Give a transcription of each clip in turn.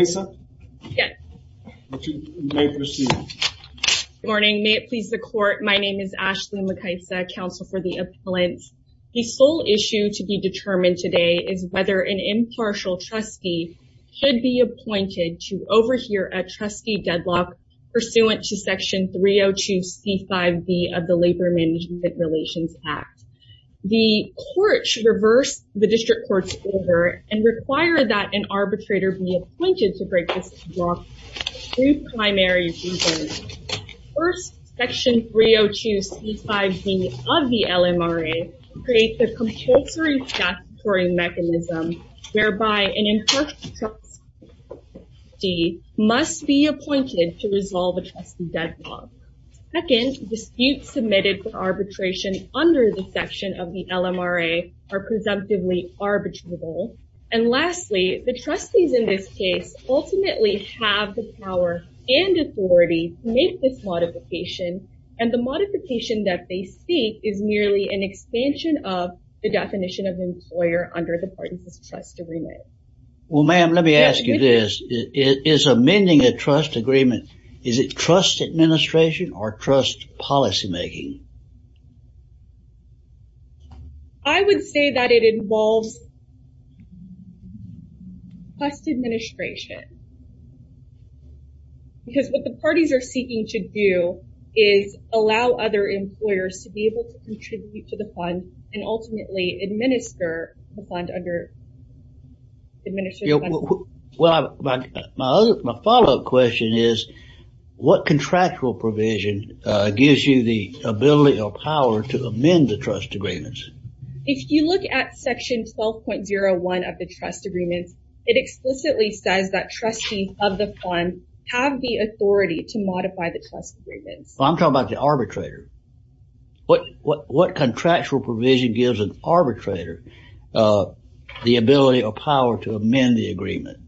May it please the Court, my name is Ashley Mekaisa, Counsel for the Appellant. The sole issue to be determined today is whether an impartial trustee should be appointed to overhear a trustee deadlock pursuant to Section 302C5B of the Labor Management Relations Act. The Court should reverse the District Court's order and require that an arbitrator be appointed to break this deadlock for two primary reasons. First, Section 302C5B of the LMRA creates a compulsory statutory mechanism whereby an impartial trustee must be appointed to resolve a trustee deadlock. Second, disputes submitted for arbitration under the section of the LMRA are presumptively arbitrable. And lastly, the trustees in this case ultimately have the power and authority to make this modification, and the modification that they seek is merely an expansion of the definition of employer under the parties' trust agreement. Well ma'am, let me ask you this. Is amending the trust agreement, is it trust administration or trust policymaking? I would say that it involves trust administration. Because what the parties are seeking to do is allow other employers to be able to contribute to the fund and ultimately administer the fund under, administer the fund. Well, my follow-up question is, what contractual provision gives you the ability or power to amend the trust agreements? If you look at Section 12.01 of the trust agreements, it explicitly says that trustees of the fund have the authority to modify the trust agreements. I'm talking about the arbitrator. What contractual provision gives an arbitrator the ability or power to amend the agreement?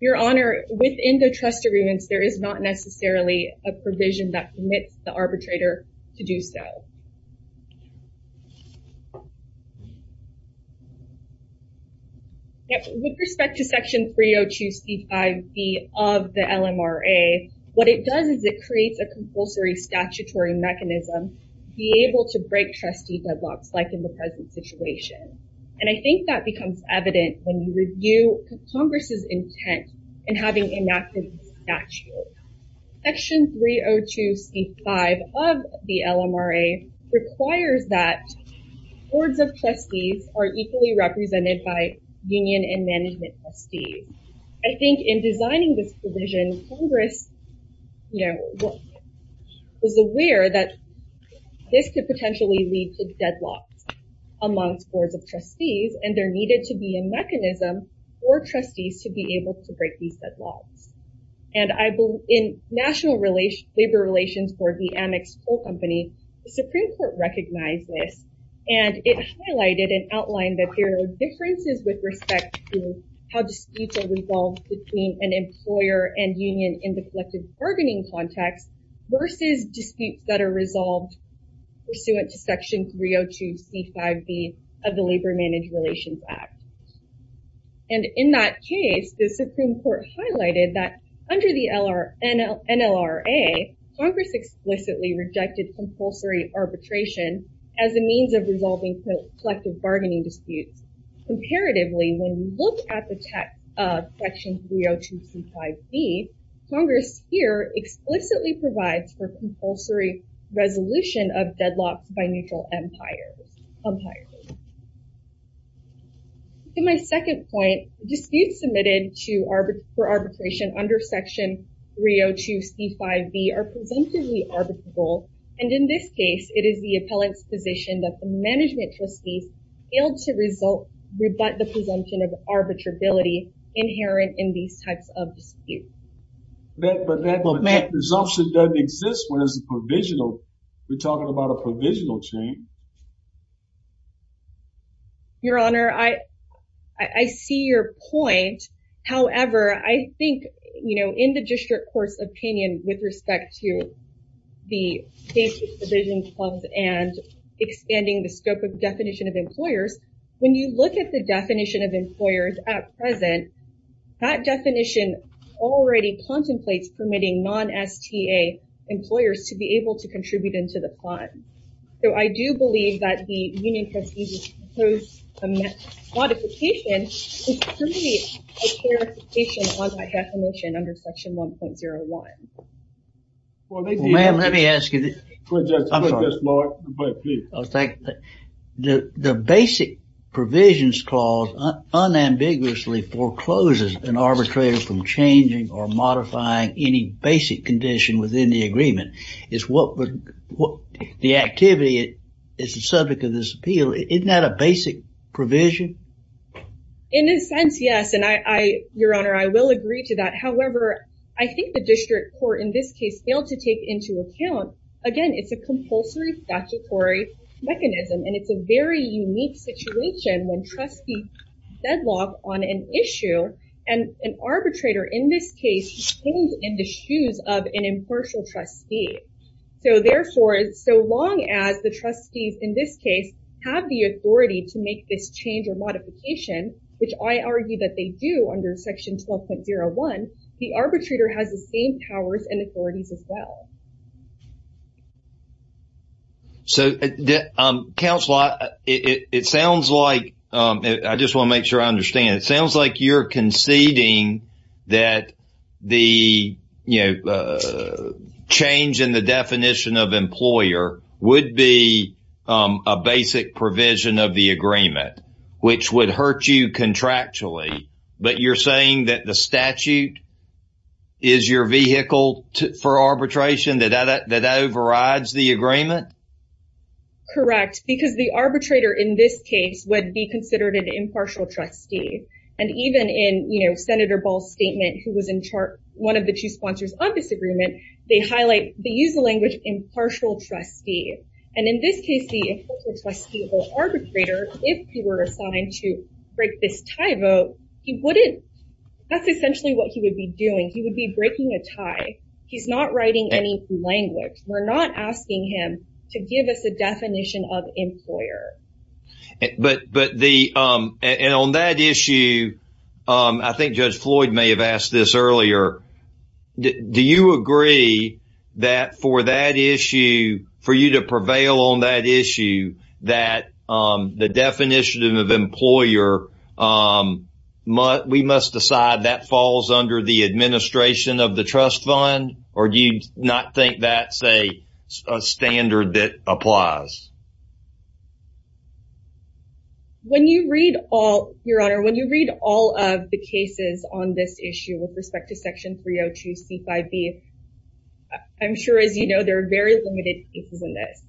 Your Honor, within the trust agreements, there is not necessarily a provision that permits the arbitrator to do so. With respect to Section 302C5B of the LMRA, what it does is it creates a compulsory statutory mechanism to be able to break trustee deadlocks like in the present situation. And I think that becomes evident when you review Congress's intent in having enacted this statute. Section 302C5 of the LMRA requires that boards of trustees are equally represented by union and management trustees. I think in designing this provision, Congress was aware that this could potentially lead to deadlocks amongst boards of trustees, and there needed to be a mechanism for trustees to be able to break these deadlocks. And in national labor relations for the Amex Coal Company, the Supreme Court recognized this, and it highlighted and outlined that there are differences with respect to how disputes are resolved between an employer and union in the collective bargaining context versus disputes that are resolved pursuant to Section 302C5B of the Labor-Managed Relations Act. And in that case, the Supreme Court highlighted that under the NLRA, Congress explicitly rejected compulsory arbitration as a means of resolving collective bargaining disputes. Comparatively, when we look at the text of Section 302C5B, Congress here explicitly provides for compulsory resolution of deadlocks by neutral empires. To my second point, disputes submitted for arbitration under Section 302C5B are presumptively arbitrable, and in this case, it is the appellant's position that the management trustees failed to rebut the presumption of arbitrability inherent in these types of disputes. But that presumption doesn't exist when it's a provisional. We're talking about a provisional change. Your Honor, I see your point, however, I think in the district court's opinion with respect to the safety provision clause and expanding the scope of definition of employers, when you look at the definition of employers at present, that definition already contemplates permitting non-STA employers to be able to contribute into the fund. So, I do believe that the union has proposed a modification to permit a clarification on that definition under Section 1.01. Well, ma'am, let me ask you, I'm sorry, the basic provisions clause unambiguously forecloses an arbitrator from changing or modifying any basic condition within the agreement. It's what the activity is the subject of this appeal, isn't that a basic provision? In a sense, yes, and I, your Honor, I will agree to that. However, I think the district court in this case failed to take into account, again, it's a compulsory statutory mechanism and it's a very unique situation when trustees deadlock on an issue and an arbitrator in this case is in the shoes of an impartial trustee. So, therefore, so long as the trustees in this case have the authority to make this change or modification, which I argue that they do under Section 12.01, the arbitrator has the same powers and authorities as well. So, counsel, it sounds like, I just want to make sure I understand, it sounds like you're conceding that the, you know, change in the definition of employer would be a basic provision of the agreement, which would hurt you contractually, but you're saying that the statute is your vehicle for arbitration that overrides the agreement? Correct, because the arbitrator in this case would be considered an impartial trustee. And even in, you know, Senator Ball's statement, who was in charge, one of the two sponsors of this agreement, they highlight, they use the language impartial trustee. And in this case, the impartial trustee or arbitrator, if he were assigned to break this tie vote, he wouldn't, that's essentially what he would be doing. He would be breaking a tie. He's not writing any language. We're not asking him to give us a definition of employer. But the, and on that issue, I think Judge Floyd may have asked this earlier. Do you agree that for that issue, for you to prevail on that issue, that the definition of employer, we must decide that falls under the administration of the trust fund? Or do you not think that's a standard that applies? When you read all, Your Honor, when you read all of the cases on this issue with respect to Section 302C5B, I'm sure, as you know, there are very limited pieces in this,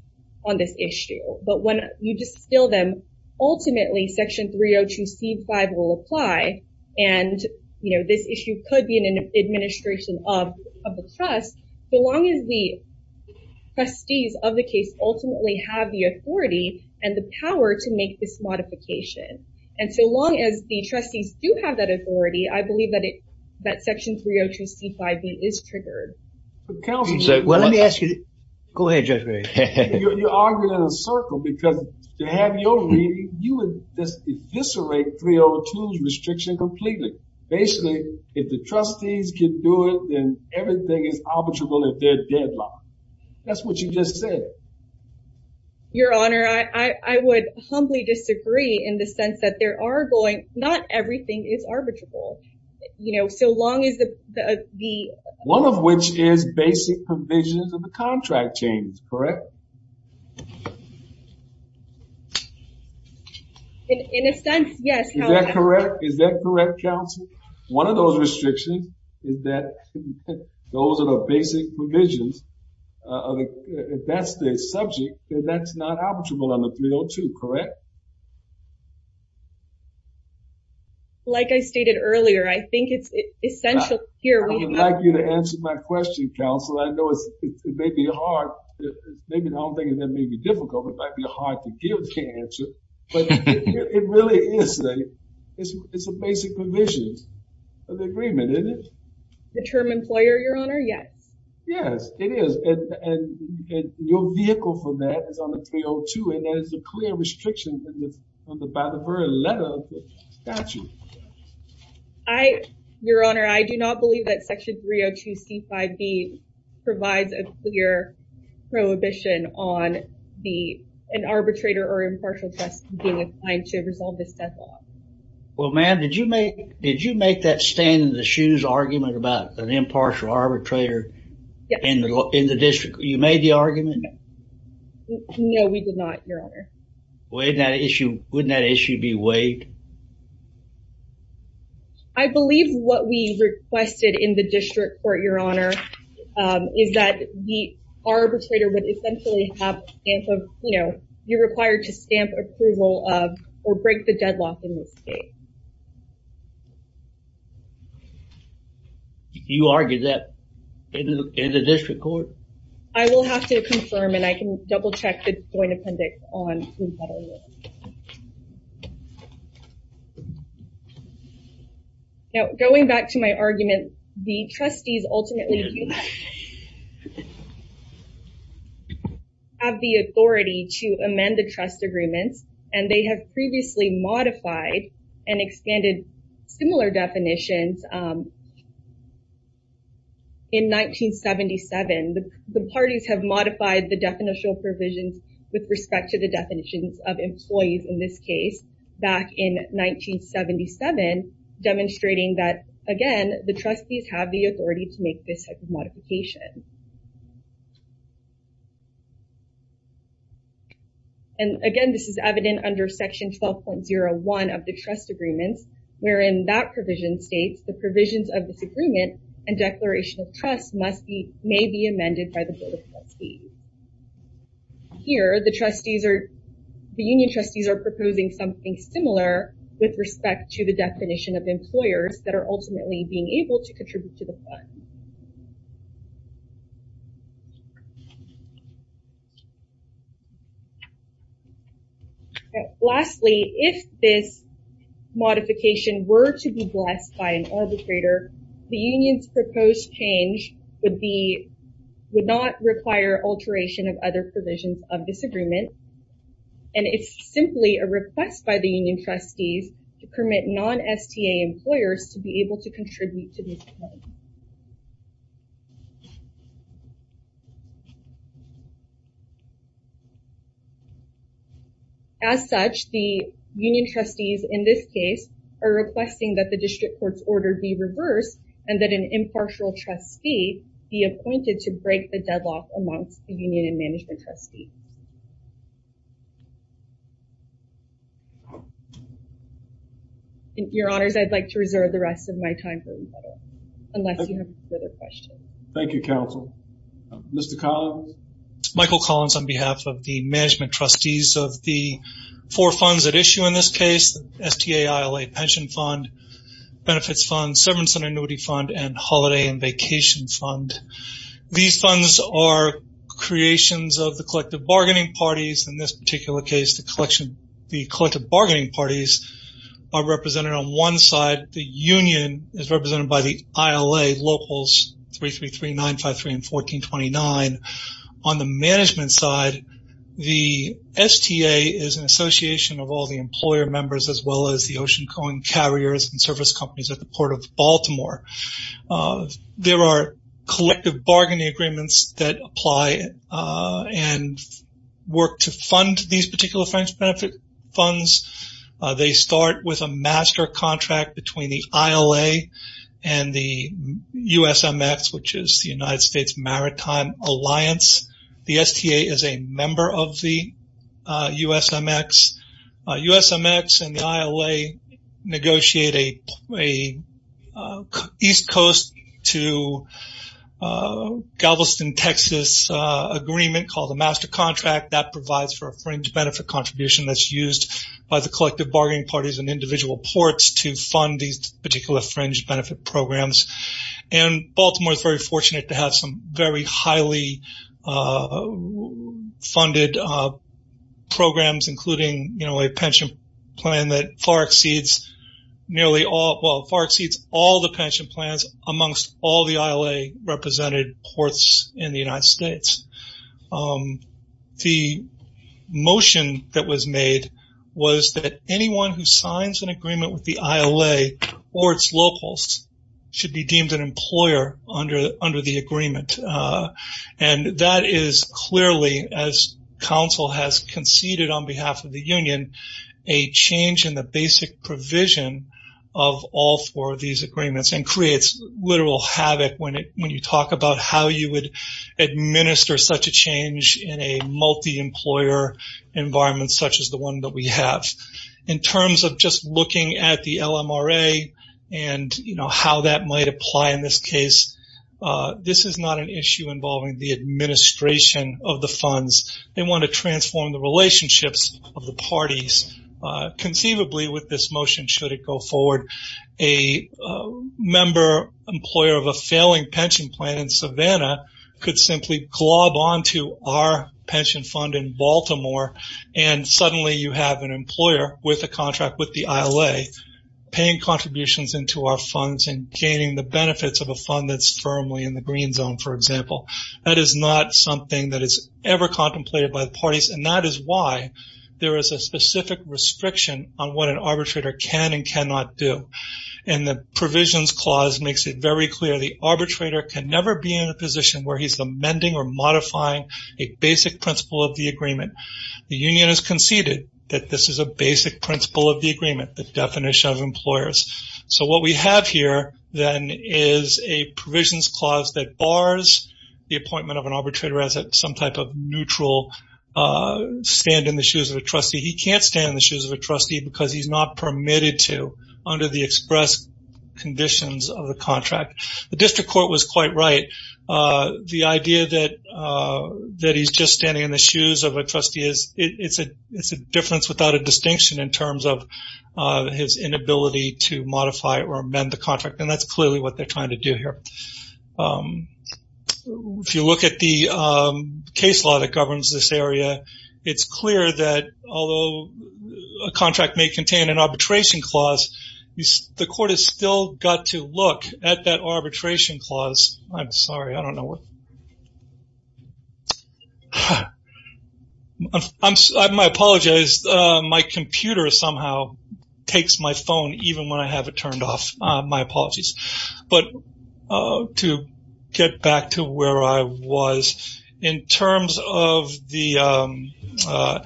on this issue. But when you distill them, ultimately, Section 302C5 will apply. And you know, this issue could be in an administration of the trust, so long as the trustees of the case ultimately have the authority and the power to make this modification. And so long as the trustees do have that authority, I believe that it, that Section 302C5B is triggered. Well, let me ask you, go ahead, Judge Floyd. You're arguing in a circle because to have your reading, you would just eviscerate 302's restriction completely. Basically, if the trustees can do it, then everything is arbitrable at their deadline. That's what you just said. Your Honor, I would humbly disagree in the sense that there are going, not everything is arbitrable. You know, so long as the, the... One of which is basic provisions of the contract change, correct? In a sense, yes. Is that correct? Is that correct, counsel? One of those restrictions is that those are the basic provisions of the, that's the subject and that's not arbitrable under 302, correct? Like I stated earlier, I think it's essential here we have... I would like you to answer my question, counsel. I know it may be hard, maybe the whole thing may be difficult, it might be hard to give the answer. But it really is, it's a basic provision of the agreement, isn't it? The term employer, Your Honor? Yes. Yes, it is. And your vehicle for that is on the 302 and there is a clear restriction on the, by the very letter of the statute. I, Your Honor, I do not believe that section 302C5B provides a clear prohibition on the, an arbitrator or impartial trust being assigned to resolve this death law. Well, ma'am, did you make, did you make that stand in the shoes argument about an impartial arbitrator in the district? You made the argument? No, we did not, Your Honor. Wouldn't that issue be waived? I believe what we requested in the district court, Your Honor, is that the arbitrator would essentially have a stamp of, you know, you're required to stamp approval of or break the deadlock in this case. You argue that in the district court? I will have to confirm and I can double check the joint appendix on who that is. Now, going back to my argument, the trustees ultimately have the authority to amend the trust agreements and they have previously modified and expanded similar definitions in 1977. The parties have modified the definitional provisions with respect to the definitions of employees in this case back in 1977, demonstrating that, again, the trustees have the authority to make this type of modification. And again, this is evident under section 12.01 of the trust agreements, wherein that provision states the provisions of this agreement and declaration of trust must be, may be amended by the board of trustees. Here the trustees are, the union trustees are proposing something similar with respect to the definition of employers that are ultimately being able to contribute to the fund. Lastly, if this modification were to be blessed by an arbitrator, the union's proposed change would be, would not require alteration of other provisions of this agreement. And it's simply a request by the union trustees to permit non-STA employers to be able to As such, the union trustees in this case are requesting that the district court's order be reversed and that an impartial trustee be appointed to break the deadlock amongst the union and management trustee. Your honors, I'd like to reserve the rest of my time for rebuttal, unless you have further questions. Thank you, counsel. Mr. Collins. Michael Collins on behalf of the management trustees of the four funds at issue in this case, STA ILA pension fund, benefits fund, severance and annuity fund, and holiday and vacation fund. These funds are creations of the collective bargaining parties. In this particular case, the collective bargaining parties are represented on one side. The union is represented by the ILA locals, 333, 953, and 1429. On the management side, the STA is an association of all the employer members, as well as the ocean coin carriers and service companies at the port of Baltimore. There are collective bargaining agreements that apply and work to fund these particular financial benefit funds. They start with a master contract between the ILA and the USMX, which is the United States Maritime Alliance. The STA is a member of the USMX. USMX and the ILA negotiate an east coast to Galveston, Texas, agreement called a master contract that provides for a fringe benefit contribution that's used by the collective bargaining parties and individual ports to fund these particular fringe benefit programs. Baltimore is very fortunate to have some very highly funded programs, including a pension plan that far exceeds all the pension plans amongst all the ILA represented ports in the United States. The motion that was made was that anyone who signs an agreement with the ILA or its locals should be deemed an employer under the agreement. That is clearly, as council has conceded on behalf of the union, a change in the basic provision of all four of these agreements and creates literal havoc when you talk about how you would administer such a change in a multi-employer environment such as the one that we have. In terms of just looking at the LMRA and how that might apply in this case, this is not an issue involving the administration of the funds. They want to transform the relationships of the parties conceivably with this motion should it go forward. A member employer of a failing pension plan in Savannah could simply glob onto our pension fund in Baltimore and suddenly you have an employer with a contract with the ILA paying contributions into our funds and gaining the benefits of a fund that is firmly in the green zone, for example. That is not something that is ever contemplated by the parties. That is why there is a specific restriction on what an arbitrator can and cannot do. The provisions clause makes it very clear the arbitrator can never be in a position where he is amending or modifying a basic principle of the agreement. The union has conceded that this is a basic principle of the agreement, the definition of employers. What we have here then is a provisions clause that bars the appointment of an arbitrator as some type of neutral stand in the shoes of a trustee. He cannot stand in the shoes of a trustee because he is not permitted to under the express conditions of the contract. The district court was quite right. The idea that he is just standing in the shoes of a trustee, it is a difference without a distinction in terms of his inability to modify or amend the contract and that is clearly what they are trying to do here. If you look at the case law that governs this area, it is clear that although a contract may contain an arbitration clause, the court has still got to look at that arbitration clause. I'm sorry, I don't know what. My computer somehow takes my phone even when I have it turned off. My apologies. To get back to where I was, in terms of the LMRA,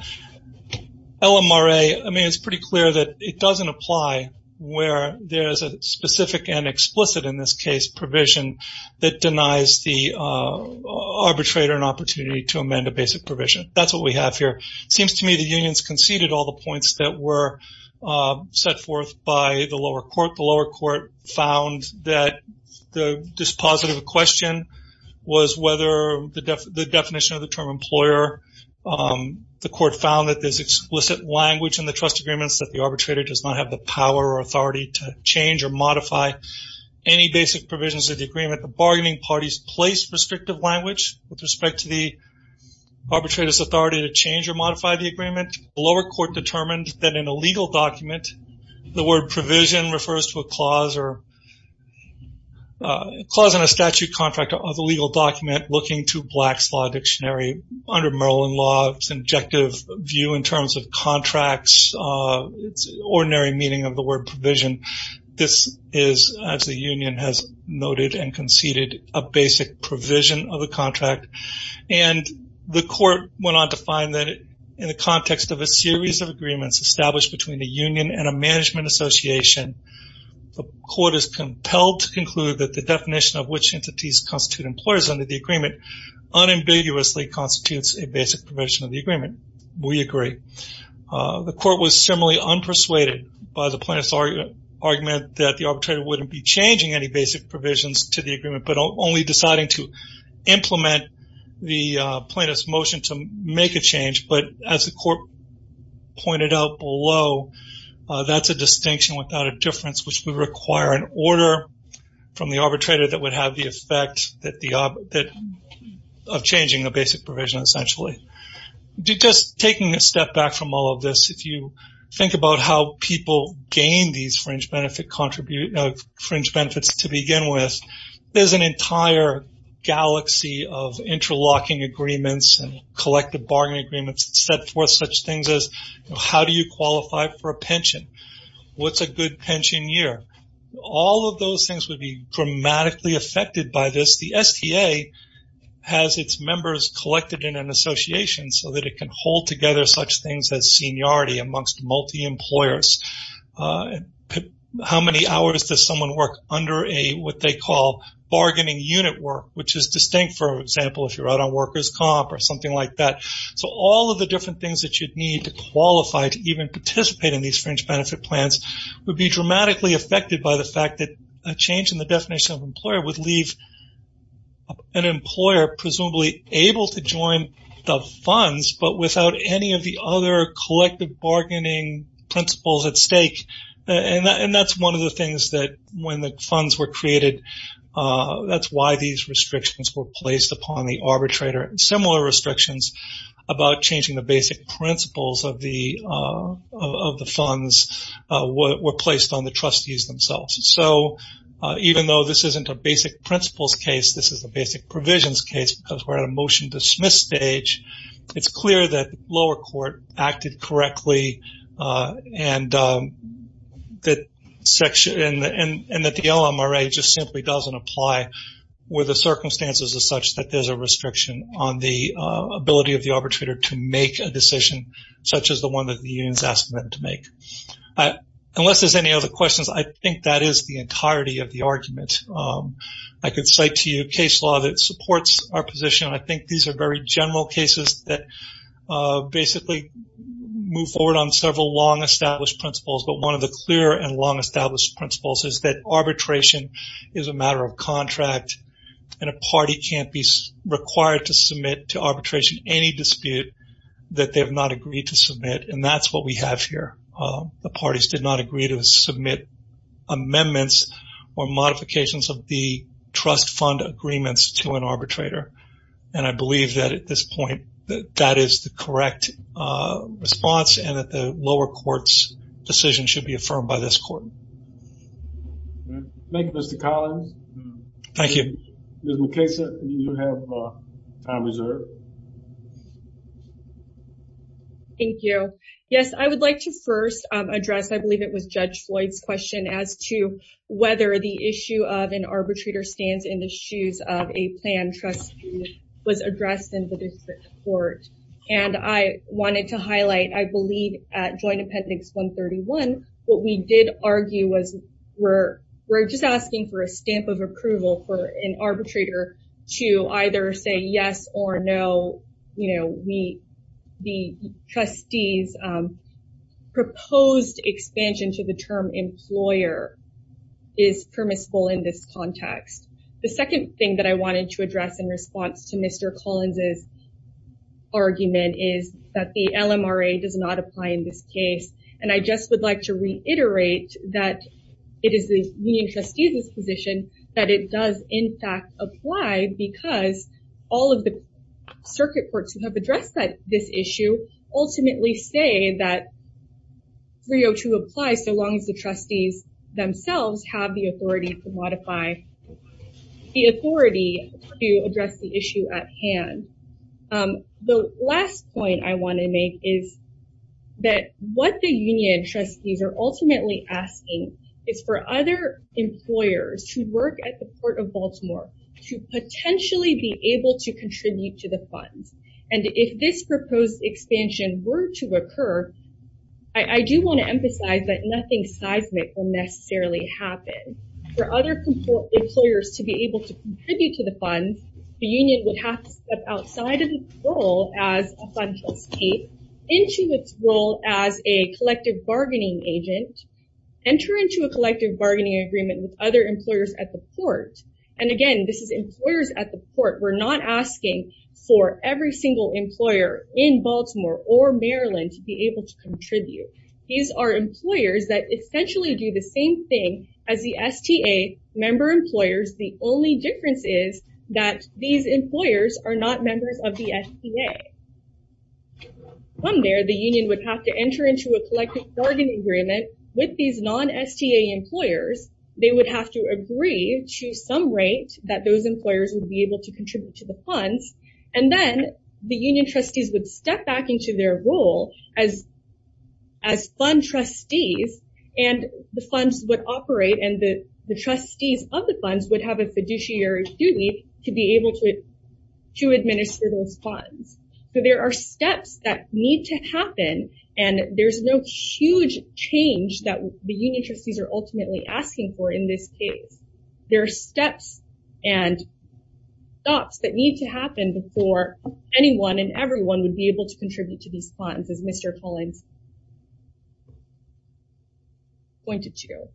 it is pretty clear that it doesn't apply where there is a specific and explicit in this case provision that denies the arbitrator an opportunity to amend a basic provision. That is what we have here. It seems to me that the unions conceded all the points that were set forth by the lower court. The lower court found that this positive question was whether the definition of the term employer. The court found that there is explicit language in the trust agreements that the arbitrator does not have the power or authority to change or modify any basic provisions of the agreement. The bargaining parties placed restrictive language with respect to the arbitrator's authority to change or modify the agreement. The lower court determined that in a legal document, the word provision refers to a clause in a statute contract of a legal document looking to Black's Law Dictionary under Merlin Law's objective view in terms of contracts, ordinary meaning of the word provision. This is, as the union has noted and conceded, a basic provision of the contract. And the court went on to find that in the context of a series of agreements established between the union and a management association, the court is compelled to conclude that the definition of which entities constitute employers under the agreement unambiguously constitutes a basic provision of the agreement. We agree. The court was similarly unpersuaded by the plaintiff's argument that the arbitrator wouldn't be changing any basic provisions to the agreement, but only deciding to implement the plaintiff's motion to make a change. But as the court pointed out below, that's a distinction without a difference which would require an order from the arbitrator that would have the effect of changing a basic provision essentially. Just taking a step back from all of this, if you think about how people gain these fringe benefits to begin with, there's an entire galaxy of interlocking agreements and collective bargaining agreements set forth such things as how do you qualify for a pension? What's a good pension year? All of those things would be dramatically affected by this. The STA has its members collected in an association so that it can hold together such things as how many hours does someone work under what they call bargaining unit work, which is distinct, for example, if you're out on workers' comp or something like that. So all of the different things that you'd need to qualify to even participate in these fringe benefit plans would be dramatically affected by the fact that a change in the definition of employer would leave an employer presumably able to join the funds, but without any of the other collective bargaining principles at stake. And that's one of the things that when the funds were created, that's why these restrictions were placed upon the arbitrator and similar restrictions about changing the basic principles of the funds were placed on the trustees themselves. So even though this isn't a basic principles case, this is a basic provisions case because we're at a motion dismiss stage. It's clear that lower court acted correctly and that the LMRA just simply doesn't apply with the circumstances as such that there's a restriction on the ability of the arbitrator to make a decision such as the one that the union's asking them to make. Unless there's any other questions, I think that is the entirety of the argument. I can cite to you a case law that supports our position. I think these are very general cases that basically move forward on several long established principles, but one of the clear and long established principles is that arbitration is a matter of contract and a party can't be required to submit to arbitration any dispute that they have not agreed to submit, and that's what we have here. The parties did not agree to submit amendments or modifications of the trust fund agreements to an arbitrator, and I believe that at this point that that is the correct response and that the lower court's decision should be affirmed by this court. Thank you, Mr. Collins. Thank you. Ms. McKesa, you have time reserved. Thank you. Yes, I would like to first address, I believe it was Judge Floyd's question, as to whether the issue of an arbitrator stands in the shoes of a plan trustee was addressed in the district court, and I wanted to highlight, I believe at Joint Appendix 131, what we did argue was we're just asking for a stamp of approval for an arbitrator to either say yes or no. The trustees' proposed expansion to the term employer is permissible in this context. The second thing that I wanted to address in response to Mr. Collins' argument is that the LMRA does not apply in this case, and I just would like to reiterate that it is the union trustees' position that it does, in fact, apply because all of the circuit courts who have addressed this issue ultimately say that 302 applies so long as the trustees themselves have the authority to modify, the authority to address the issue at hand. The last point I want to make is that what the union trustees are ultimately asking is for other employers who work at the Port of Baltimore to potentially be able to contribute to the funds, and if this proposed expansion were to occur, I do want to emphasize that nothing seismic will necessarily happen. For other employers to be able to contribute to the funds, the union would have to step outside of its role as a plan trustee into its role as a collective bargaining agent, enter into a collective bargaining agreement with other employers at the port, and again, this is employers at the port. We're not asking for every single employer in Baltimore or Maryland to be able to contribute. These are employers that essentially do the same thing as the STA member employers. The only difference is that these employers are not members of the STA. From there, the union would have to enter into a collective bargaining agreement with these non-STA employers. They would have to agree to some rate that those employers would be able to contribute to the funds, and then the union trustees would step back into their role as fund trustees, and the funds would operate, and the trustees of the funds would have a fiduciary duty to be able to administer those funds. There are steps that need to happen, and there's no huge change that the union trustees are ultimately asking for in this case. There are steps and stops that need to happen before anyone and everyone would be able to contribute to these funds, as Mr. Collins pointed to.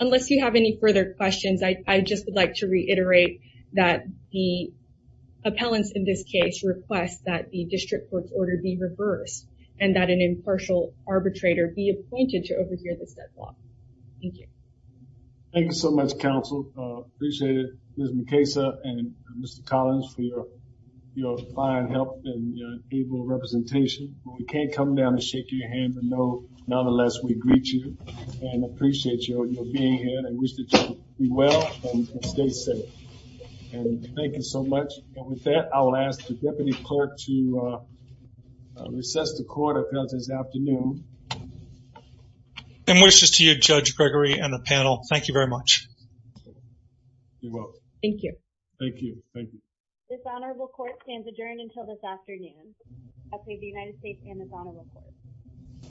Unless you have any further questions, I just would like to reiterate that the appellants in this case request that the district court's order be reversed, and that an impartial arbitrator be appointed to overhear this deadlock. Thank you. Thank you so much, counsel. I appreciate it. Ms. McKesa and Mr. Collins, for your fine help and your able representation. We can't come down and shake your hand, but nonetheless, we greet you, and appreciate your being here, and wish that you do well and stay safe. Thank you so much. With that, I will ask the deputy clerk to recess the court appellants this afternoon. And wishes to you, Judge Gregory and the panel. Thank you very much. You're welcome. Thank you. Thank you. Thank you. This honorable court stands adjourned until this afternoon. Okay, the United States and the Donovan Court.